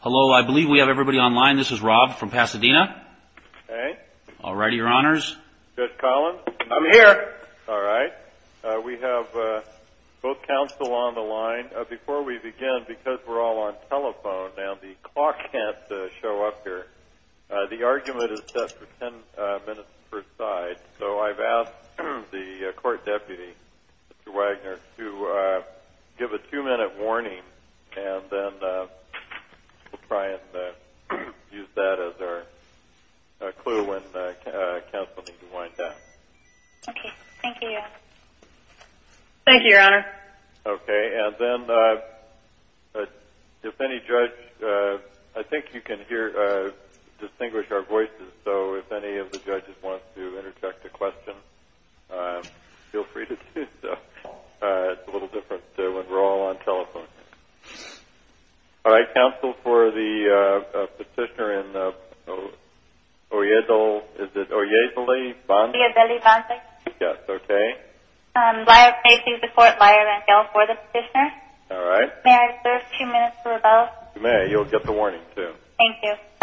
Hello, I believe we have everybody online. This is Rob from Pasadena. Okay. All righty, Your Honors. Judge Collins? I'm here. All right. We have both counsel on the line. Before we begin, because we're all on telephone now, the clock can't show up here. The argument is set for ten minutes per side, so I've asked the Court Deputy, Mr. Wagner, to give a two-minute warning, and then we'll try and use that as our clue when counsel needs to wind down. Okay. Thank you, Your Honor. Thank you, Your Honor. Okay. And then if any judge, I think you can hear, distinguish our voices, so if any of the judges want to interject a question, feel free to do so. It's a little different when we're all on telephone. All right. Counsel for the petitioner in Oyezle-Banda? Oyezle-Banda. Yes. Okay. May I please report Liar and Fail for the petitioner? All right. May I serve two minutes for rebuttal? You may. You'll get the warning, too. Thank you. Petitioner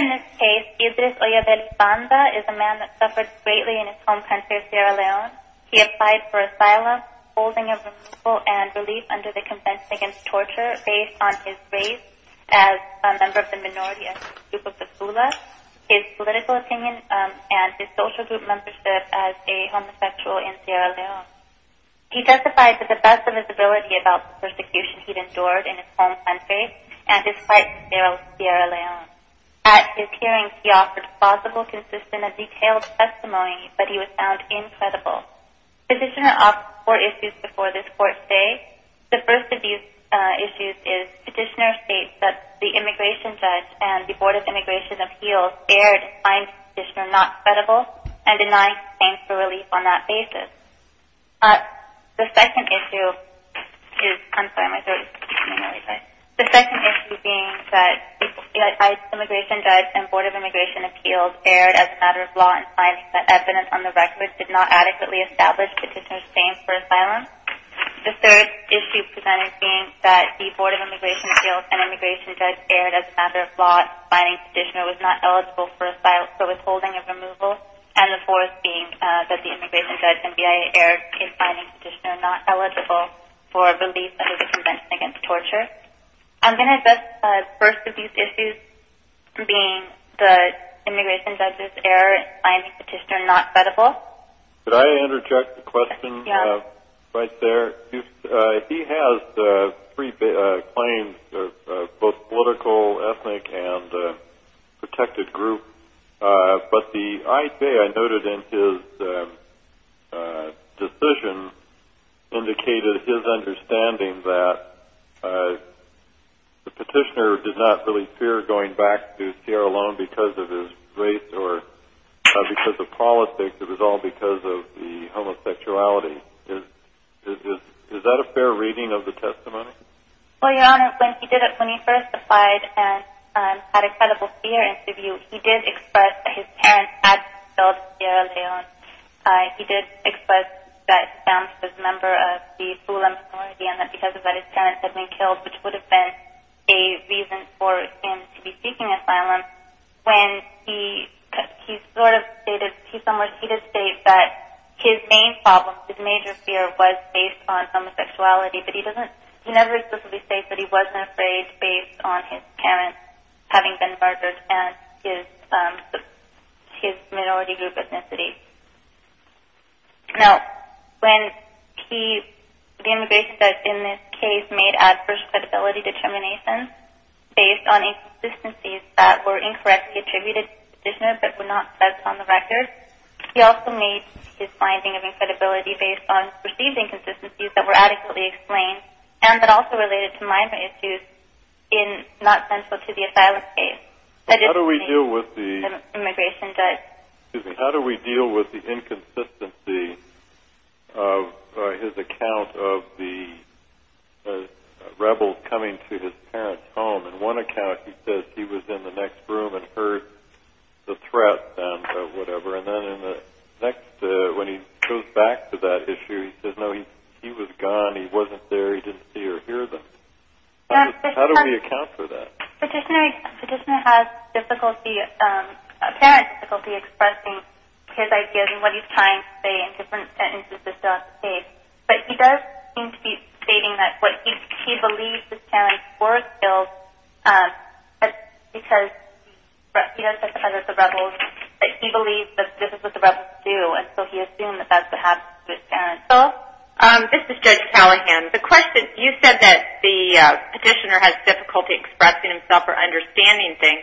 in this case, Idris Oyezle-Banda, is a man that suffered greatly in his home country of Sierra Leone. He applied for asylum, holding of removal, and relief under the Convention Against Torture based on his race as a member of the minority group of the Tula, his political opinion, and his social group membership as a homosexual in Sierra Leone. He testified that the best of his ability about the persecution he'd endured in his home country and his fight for Sierra Leone. At his hearings, he offered plausible, consistent, and detailed testimony, but he was found incredible. Petitioner offers four issues before this court date. The first of these issues is Petitioner states that the immigration judge and the Board of Immigration Appeals erred and finds Petitioner not credible and denies claims for relief on that basis. The second issue is – I'm sorry, my throat is starting to hurt. The second issue being that the immigration judge and Board of Immigration Appeals erred as a matter of law and finds that evidence on the record did not adequately establish Petitioner's claims for asylum. The third issue presented being that the Board of Immigration Appeals and immigration judge erred as a matter of law finding Petitioner was not eligible for asylum for withholding of removal. And the fourth being that the immigration judge and BIA erred in finding Petitioner not eligible for relief under the Convention Against Torture. I'm going to address the first of these issues being the immigration judge's error in finding Petitioner not credible. Could I interject a question right there? He has three claims, both political, ethnic, and protected groups. But the IFA, I noted in his decision, indicated his understanding that Petitioner did not really fear going back to Sierra Leone all because of his race or because of politics. It was all because of the homosexuality. Is that a fair reading of the testimony? Well, Your Honor, when he first applied and had a credible fear interview, he did express that his parents had killed Sierra Leone. He did express that Sam was a member of the Fulham community and that because of that his parents had been killed, which would have been a reason for him to be seeking asylum. When he sort of stated, he somewhat, he did state that his main problem, his major fear, was based on homosexuality. But he doesn't, he never explicitly states that he wasn't afraid based on his parents having been murdered and his minority group ethnicity. Now, when he, the immigration judge in this case made adverse credibility determinations based on inconsistencies that were incorrectly attributed to Petitioner but were not set on the record, he also made his finding of incredibility based on perceived inconsistencies that were adequately explained and that also related to minor issues not central to the asylum case. How do we deal with the inconsistency of his account of the rebels coming to his parents' home? In one account he says he was in the next room and heard the threat sound of whatever, and then in the next when he goes back to that issue he says, no, he was gone, he wasn't there, he didn't see or hear them. How do we account for that? Petitioner has difficulty, apparent difficulty, expressing his ideas and what he's trying to say in different sentences throughout the case. But he does seem to be stating that what he believes his parents were killed because he does think that the rebels, that he believes that this is what the rebels do and so he assumed that that's what happened to his parents. This is Judge Callahan. The question, you said that the Petitioner has difficulty expressing himself or understanding things.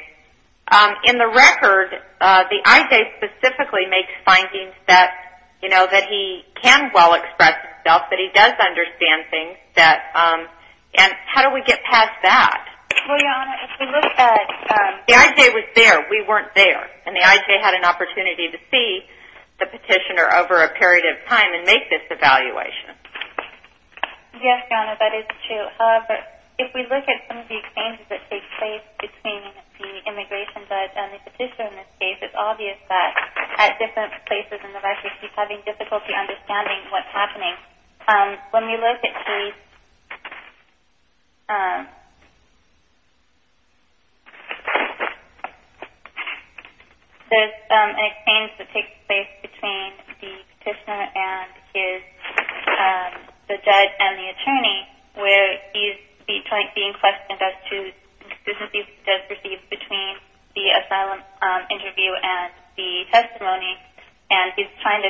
In the record, the IJ specifically makes findings that he can well express himself, that he does understand things, and how do we get past that? Well, Your Honor, if we look at... The IJ was there, we weren't there, and the IJ had an opportunity to see the Petitioner over a period of time and make this evaluation. Yes, Your Honor, that is true. However, if we look at some of the exchanges that take place between the Immigration Judge and the Petitioner in this case, it's obvious that at different places in the record, he's having difficulty understanding what's happening. When we look at the... There's an exchange that takes place between the Petitioner and the Judge and the Attorney where he's being questioned as to the conclusions he has received between the asylum interview and the testimony and he's trying to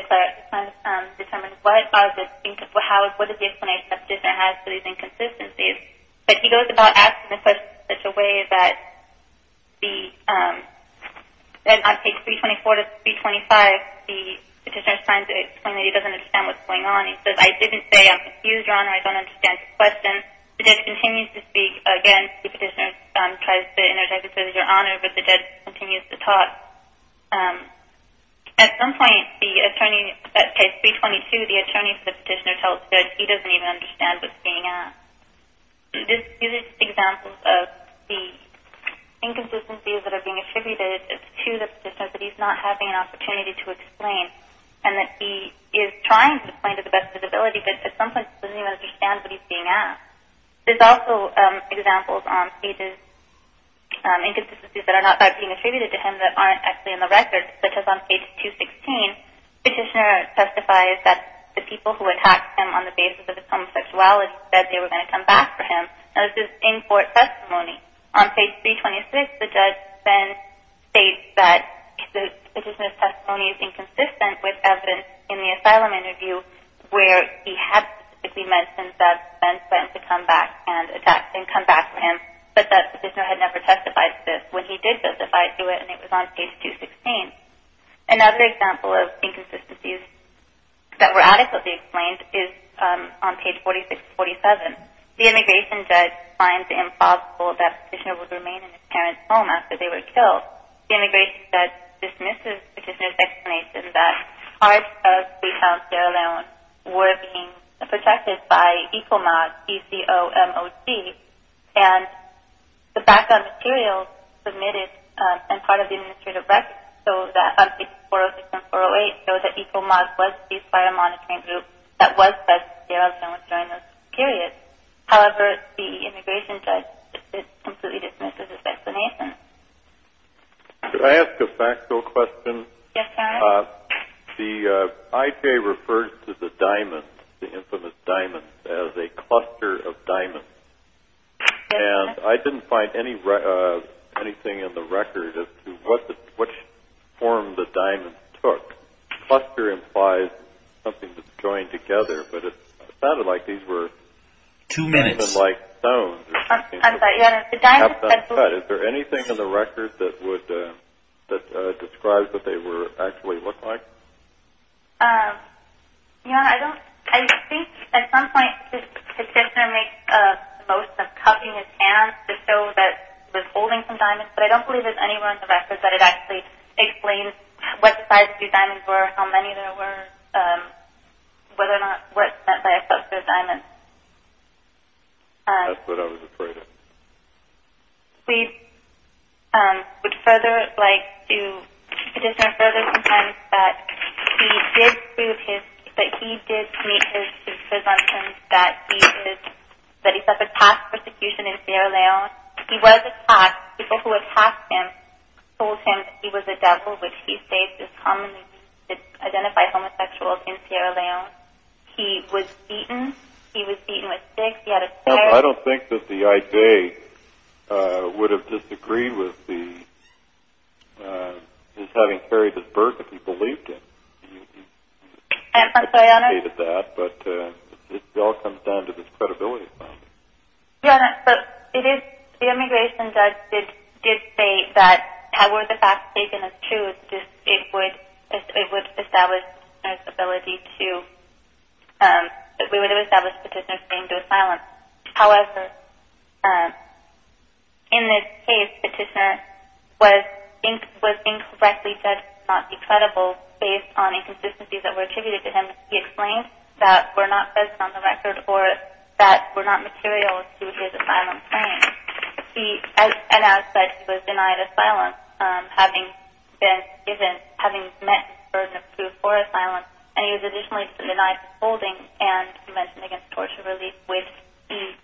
determine what is the explanation the Petitioner has for these inconsistencies. But he goes about asking the question in such a way that on page 324 to 325, the Petitioner is trying to explain that he doesn't understand what's going on. He says, I didn't say I'm confused, Your Honor, I don't understand your question. The Judge continues to speak against the Petitioner, tries to interject and says, Your Honor, but the Judge continues to talk. At some point, the Attorney, at page 322, the Attorney for the Petitioner tells the Judge he doesn't even understand what's being asked. These are just examples of the inconsistencies that are being attributed to the Petitioner that he's not having an opportunity to explain and that he is trying to explain to the best of his ability but at some point he doesn't even understand what he's being asked. There's also examples on pages, inconsistencies that are not being attributed to him that aren't actually in the record, such as on page 216, Petitioner testifies that the people who attacked him on the basis of his homosexuality said they were going to come back for him. Now this is in court testimony. On page 326, the Judge then states that the Petitioner's testimony is inconsistent with evidence in the asylum interview where he had specifically mentioned that the men went to come back and attack and come back for him but that the Petitioner had never testified to this when he did testify to it and it was on page 216. Another example of inconsistencies that were adequately explained is on page 46-47. The Immigration Judge finds it impossible that the Petitioner would remain in his parents' home after they were killed. The Immigration Judge dismisses the Petitioner's explanation that parts of the town of Sierra Leone were being protected by ECOMOG, E-C-O-M-O-G, and the background materials submitted and part of the administrative record on page 406 and 408 show that ECOMOG was used by a monitoring group that was present in Sierra Leone during this period. However, the Immigration Judge completely dismisses his explanation. Could I ask a factual question? Yes, sir. The IJ refers to the diamonds, the infamous diamonds, as a cluster of diamonds. And I didn't find anything in the record as to which form the diamonds took. Cluster implies something that's going together, but it sounded like these were- Two minutes. I'm sorry. Is there anything in the record that describes what they actually looked like? I think at some point the Petitioner makes the most of covering his hands to show that he was holding some diamonds, but I don't believe there's anywhere in the record that it actually explains what size the diamonds were, how many there were, whether or not work was spent by a cluster of diamonds. That's what I was afraid of. We would further like to petitioner further sometimes that he did prove his- that he did meet his presumptions that he suffered past persecution in Sierra Leone. He was attacked. People who attacked him told him that he was a devil, which he states is commonly used to identify homosexuals in Sierra Leone. He was beaten. He was beaten with sticks. He had a spear. I don't think that the IJ would have disagreed with his having carried this burden if he believed it. I'm sorry, Your Honor. But it all comes down to his credibility. Your Honor, the immigration judge did say that were the facts taken as true, it would establish Petitioner's ability to- we would have established Petitioner's claim to asylum. However, in this case, Petitioner was incorrectly judged to not be credible based on inconsistencies that were attributed to him. He explained that were not based on the record or that were not material to his asylum claim. And as such, he was denied asylum, having met the burden of proof for asylum. And he was additionally denied holding and prevention against torture relief, which he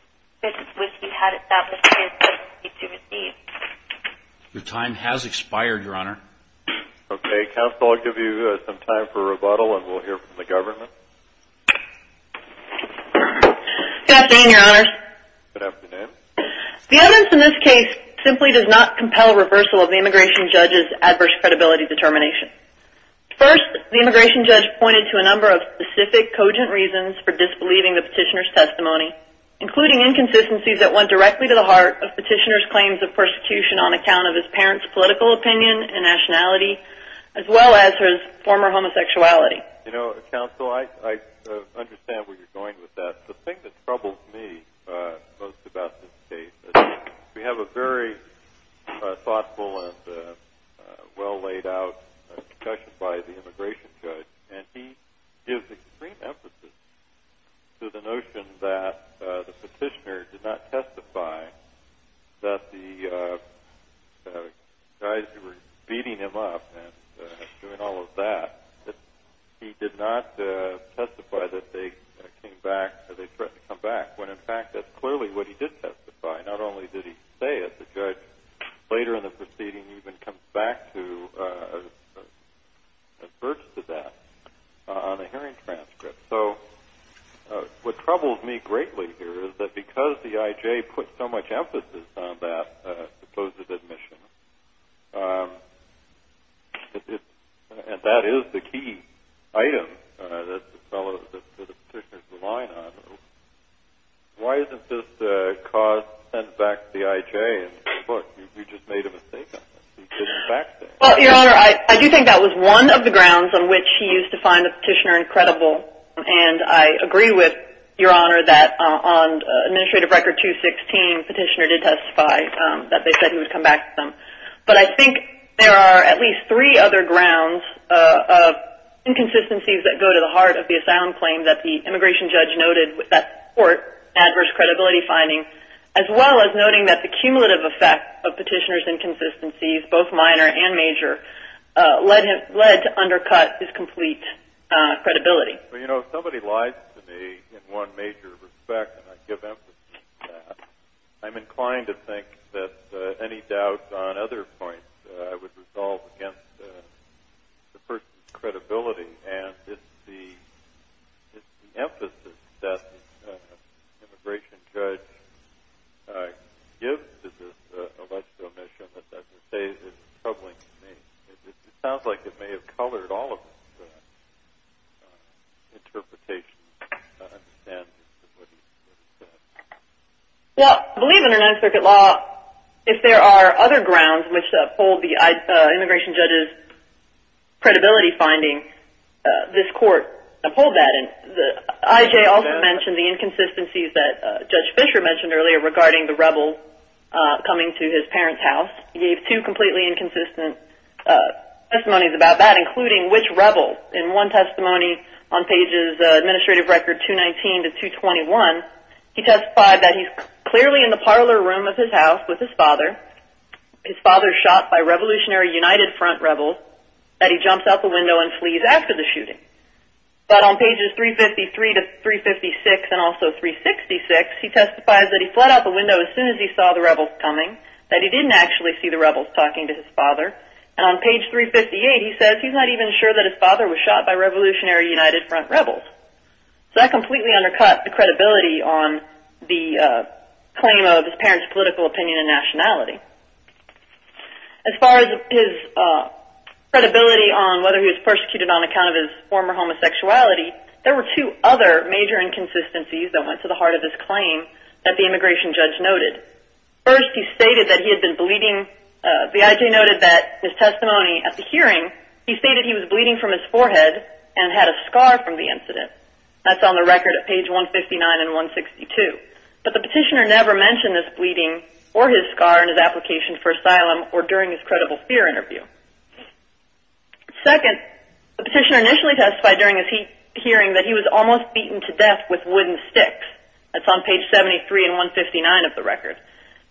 had established his ability to receive. Okay. Counsel, I'll give you some time for rebuttal, and we'll hear from the government. Good afternoon, Your Honor. Good afternoon. The evidence in this case simply does not compel reversal of the immigration judge's adverse credibility determination. First, the immigration judge pointed to a number of specific cogent reasons for disbelieving the Petitioner's testimony, including inconsistencies that went directly to the heart of Petitioner's claims of persecution on account of his parents' political opinion and nationality, as well as his former homosexuality. You know, Counsel, I understand where you're going with that. The thing that troubles me most about this case is we have a very thoughtful and well-laid-out discussion by the immigration judge, and he gives extreme emphasis to the notion that the Petitioner did not testify that the guys who were beating him up and doing all of that, that he did not testify that they threatened to come back, when in fact that's clearly what he did testify. Not only did he say it, the judge later in the proceeding even comes back to adverse to that on a hearing transcript. So what troubles me greatly here is that because the I.J. put so much emphasis on that supposed admission, and that is the key item that the Petitioner is relying on, why isn't this cause sent back to the I.J. and said, look, you just made a mistake on this. He didn't back that. Well, Your Honor, I do think that was one of the grounds on which he used to find the Petitioner incredible, and I agree with Your Honor that on Administrative Record 216, Petitioner did testify that they said he would come back to them. But I think there are at least three other grounds of inconsistencies that go to the heart of the asylum claim that the immigration judge noted that support adverse credibility finding, as well as noting that the cumulative effect of Petitioner's inconsistencies, both minor and major, led to undercut his complete credibility. Well, you know, if somebody lies to me in one major respect, and I give emphasis to that, I'm inclined to think that any doubt on other points I would resolve against the person's credibility, and it's the emphasis that the immigration judge gives to this alleged omission that I would say is troubling to me. It sounds like it may have colored all of his interpretations and what he said. Well, I believe under Ninth Circuit law, if there are other grounds which uphold the immigration judge's credibility finding, this Court uphold that. And I.J. also mentioned the inconsistencies that Judge Fischer mentioned earlier regarding the rebels coming to his parents' house. He gave two completely inconsistent testimonies about that, including which rebel. In one testimony on pages Administrative Record 219 to 221, he testified that he's clearly in the parlor room of his house with his father. His father's shot by Revolutionary United Front rebels, that he jumps out the window and flees after the shooting. But on pages 353 to 356 and also 366, he testifies that he fled out the window as soon as he saw the rebels coming, that he didn't actually see the rebels talking to his father. And on page 358, he says he's not even sure that his father was shot by Revolutionary United Front rebels. So that completely undercut the credibility on the claim of his parents' political opinion and nationality. As far as his credibility on whether he was persecuted on account of his former homosexuality, there were two other major inconsistencies that went to the heart of his claim that the immigration judge noted. First, he stated that he had been bleeding. The IJ noted that his testimony at the hearing, he stated he was bleeding from his forehead and had a scar from the incident. That's on the record at page 159 and 162. But the petitioner never mentioned this bleeding or his scar in his application for asylum or during his credible fear interview. Second, the petitioner initially testified during his hearing that he was almost beaten to death with wooden sticks. That's on page 73 and 159 of the record.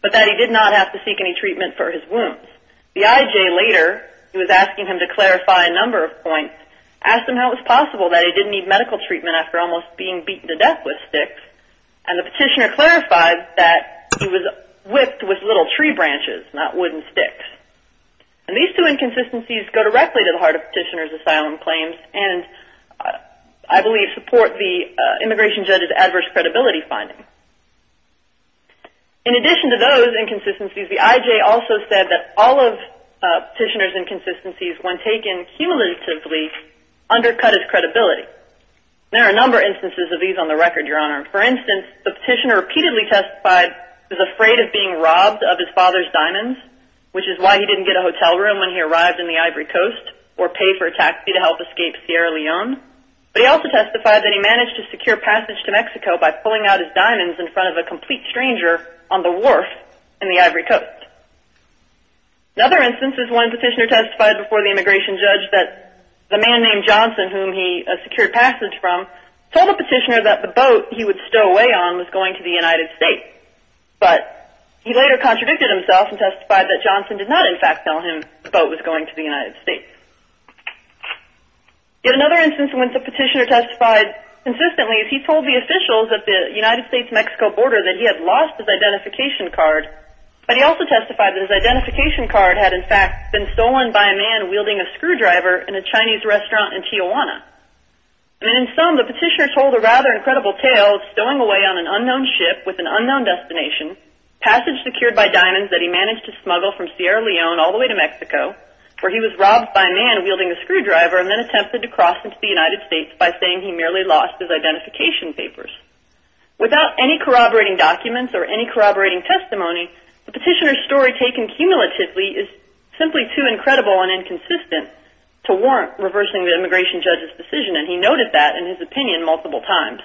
But that he did not have to seek any treatment for his wounds. The IJ later, who was asking him to clarify a number of points, asked him how it was possible that he didn't need medical treatment after almost being beaten to death with sticks. And the petitioner clarified that he was whipped with little tree branches, not wooden sticks. And these two inconsistencies go directly to the heart of the petitioner's asylum claims and I believe support the immigration judge's adverse credibility finding. In addition to those inconsistencies, the IJ also said that all of the petitioner's inconsistencies, when taken cumulatively, undercut his credibility. There are a number of instances of these on the record, Your Honor. For instance, the petitioner repeatedly testified he was afraid of being robbed of his father's diamonds, which is why he didn't get a hotel room when he arrived in the Ivory Coast, or pay for a taxi to help escape Sierra Leone. But he also testified that he managed to secure passage to Mexico by pulling out his diamonds in front of a complete stranger on the wharf in the Ivory Coast. Another instance is when the petitioner testified before the immigration judge that the man named Johnson, whom he secured passage from, told the petitioner that the boat he would stow away on was going to the United States. But he later contradicted himself and testified that Johnson did not, in fact, tell him the boat was going to the United States. Yet another instance when the petitioner testified consistently is he told the officials at the United States-Mexico border that he had lost his identification card, but he also testified that his identification card had, in fact, been stolen by a man wielding a screwdriver in a Chinese restaurant in Tijuana. And in sum, the petitioner told a rather incredible tale of stowing away on an unknown ship with an unknown destination, passage secured by diamonds that he managed to smuggle from Sierra Leone all the way to Mexico, where he was robbed by a man wielding a screwdriver and then attempted to cross into the United States by saying he merely lost his identification papers. Without any corroborating documents or any corroborating testimony, the petitioner's story taken cumulatively is simply too incredible and inconsistent to warrant reversing the immigration judge's decision, and he noted that in his opinion multiple times.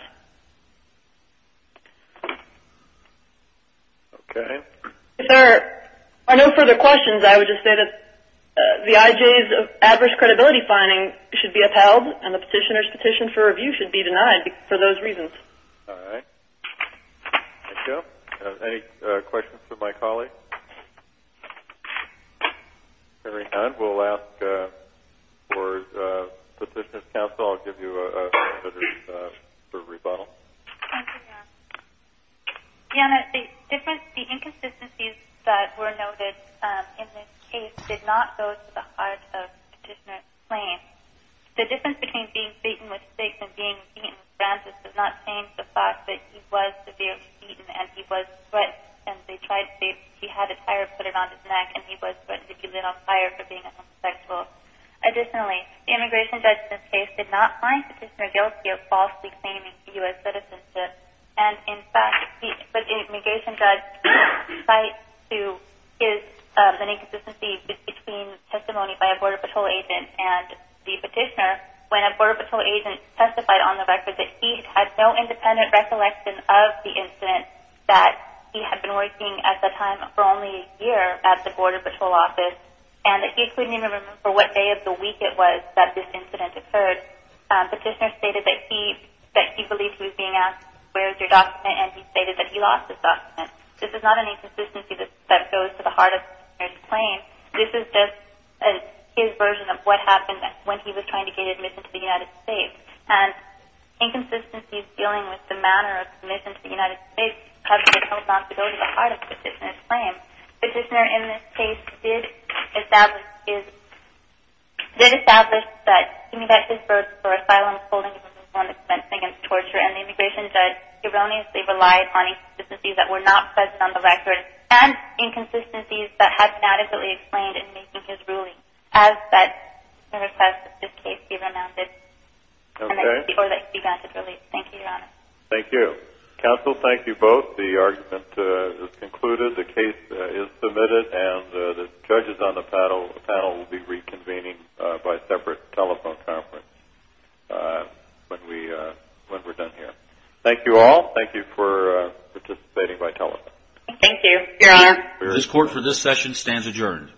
Okay. If there are no further questions, I would just say that the IJ's adverse credibility finding should be upheld and the petitioner's petition for review should be denied for those reasons. All right. Thank you. Any questions for my colleagues? Hearing none, I will ask for petitioner's counsel. I'll give you a minute for rebuttal. Thank you, Jan. Jan, the inconsistencies that were noted in this case did not go to the heart of petitioner's claim. The difference between being beaten with sticks and being beaten with branches does not change the fact that he was severely beaten and he was threatened. He had a tire put around his neck and he was put in a little tire for being unrespectful. Additionally, the immigration judge in this case did not find the petitioner guilty of falsely claiming U.S. citizenship, and in fact the immigration judge cites an inconsistency between testimony by a Border Patrol agent and the petitioner when a Border Patrol agent testified on the record that he had no independent recollection of the incident, that he had been working at the time for only a year at the Border Patrol office, and that he couldn't even remember what day of the week it was that this incident occurred. Petitioner stated that he believed he was being asked, where is your document, and he stated that he lost his document. This is not an inconsistency that goes to the heart of petitioner's claim. This is just his version of what happened when he was trying to get admission to the United States. And inconsistencies dealing with the manner of admission to the United States have become a responsibility at the heart of petitioner's claim. Petitioner in this case did establish that giving back his birth for asylum, holding him responsible and expensing against torture, and the immigration judge erroneously relied on inconsistencies that were not pressed on the record and inconsistencies that had been adequately explained in making his ruling. I request that this case be granted release. Thank you, Your Honor. Thank you. Counsel, thank you both. The argument is concluded, the case is submitted, and the judges on the panel will be reconvening by separate telephone conference when we're done here. Thank you all. Thank you for participating by telephone. Thank you. This court for this session stands adjourned.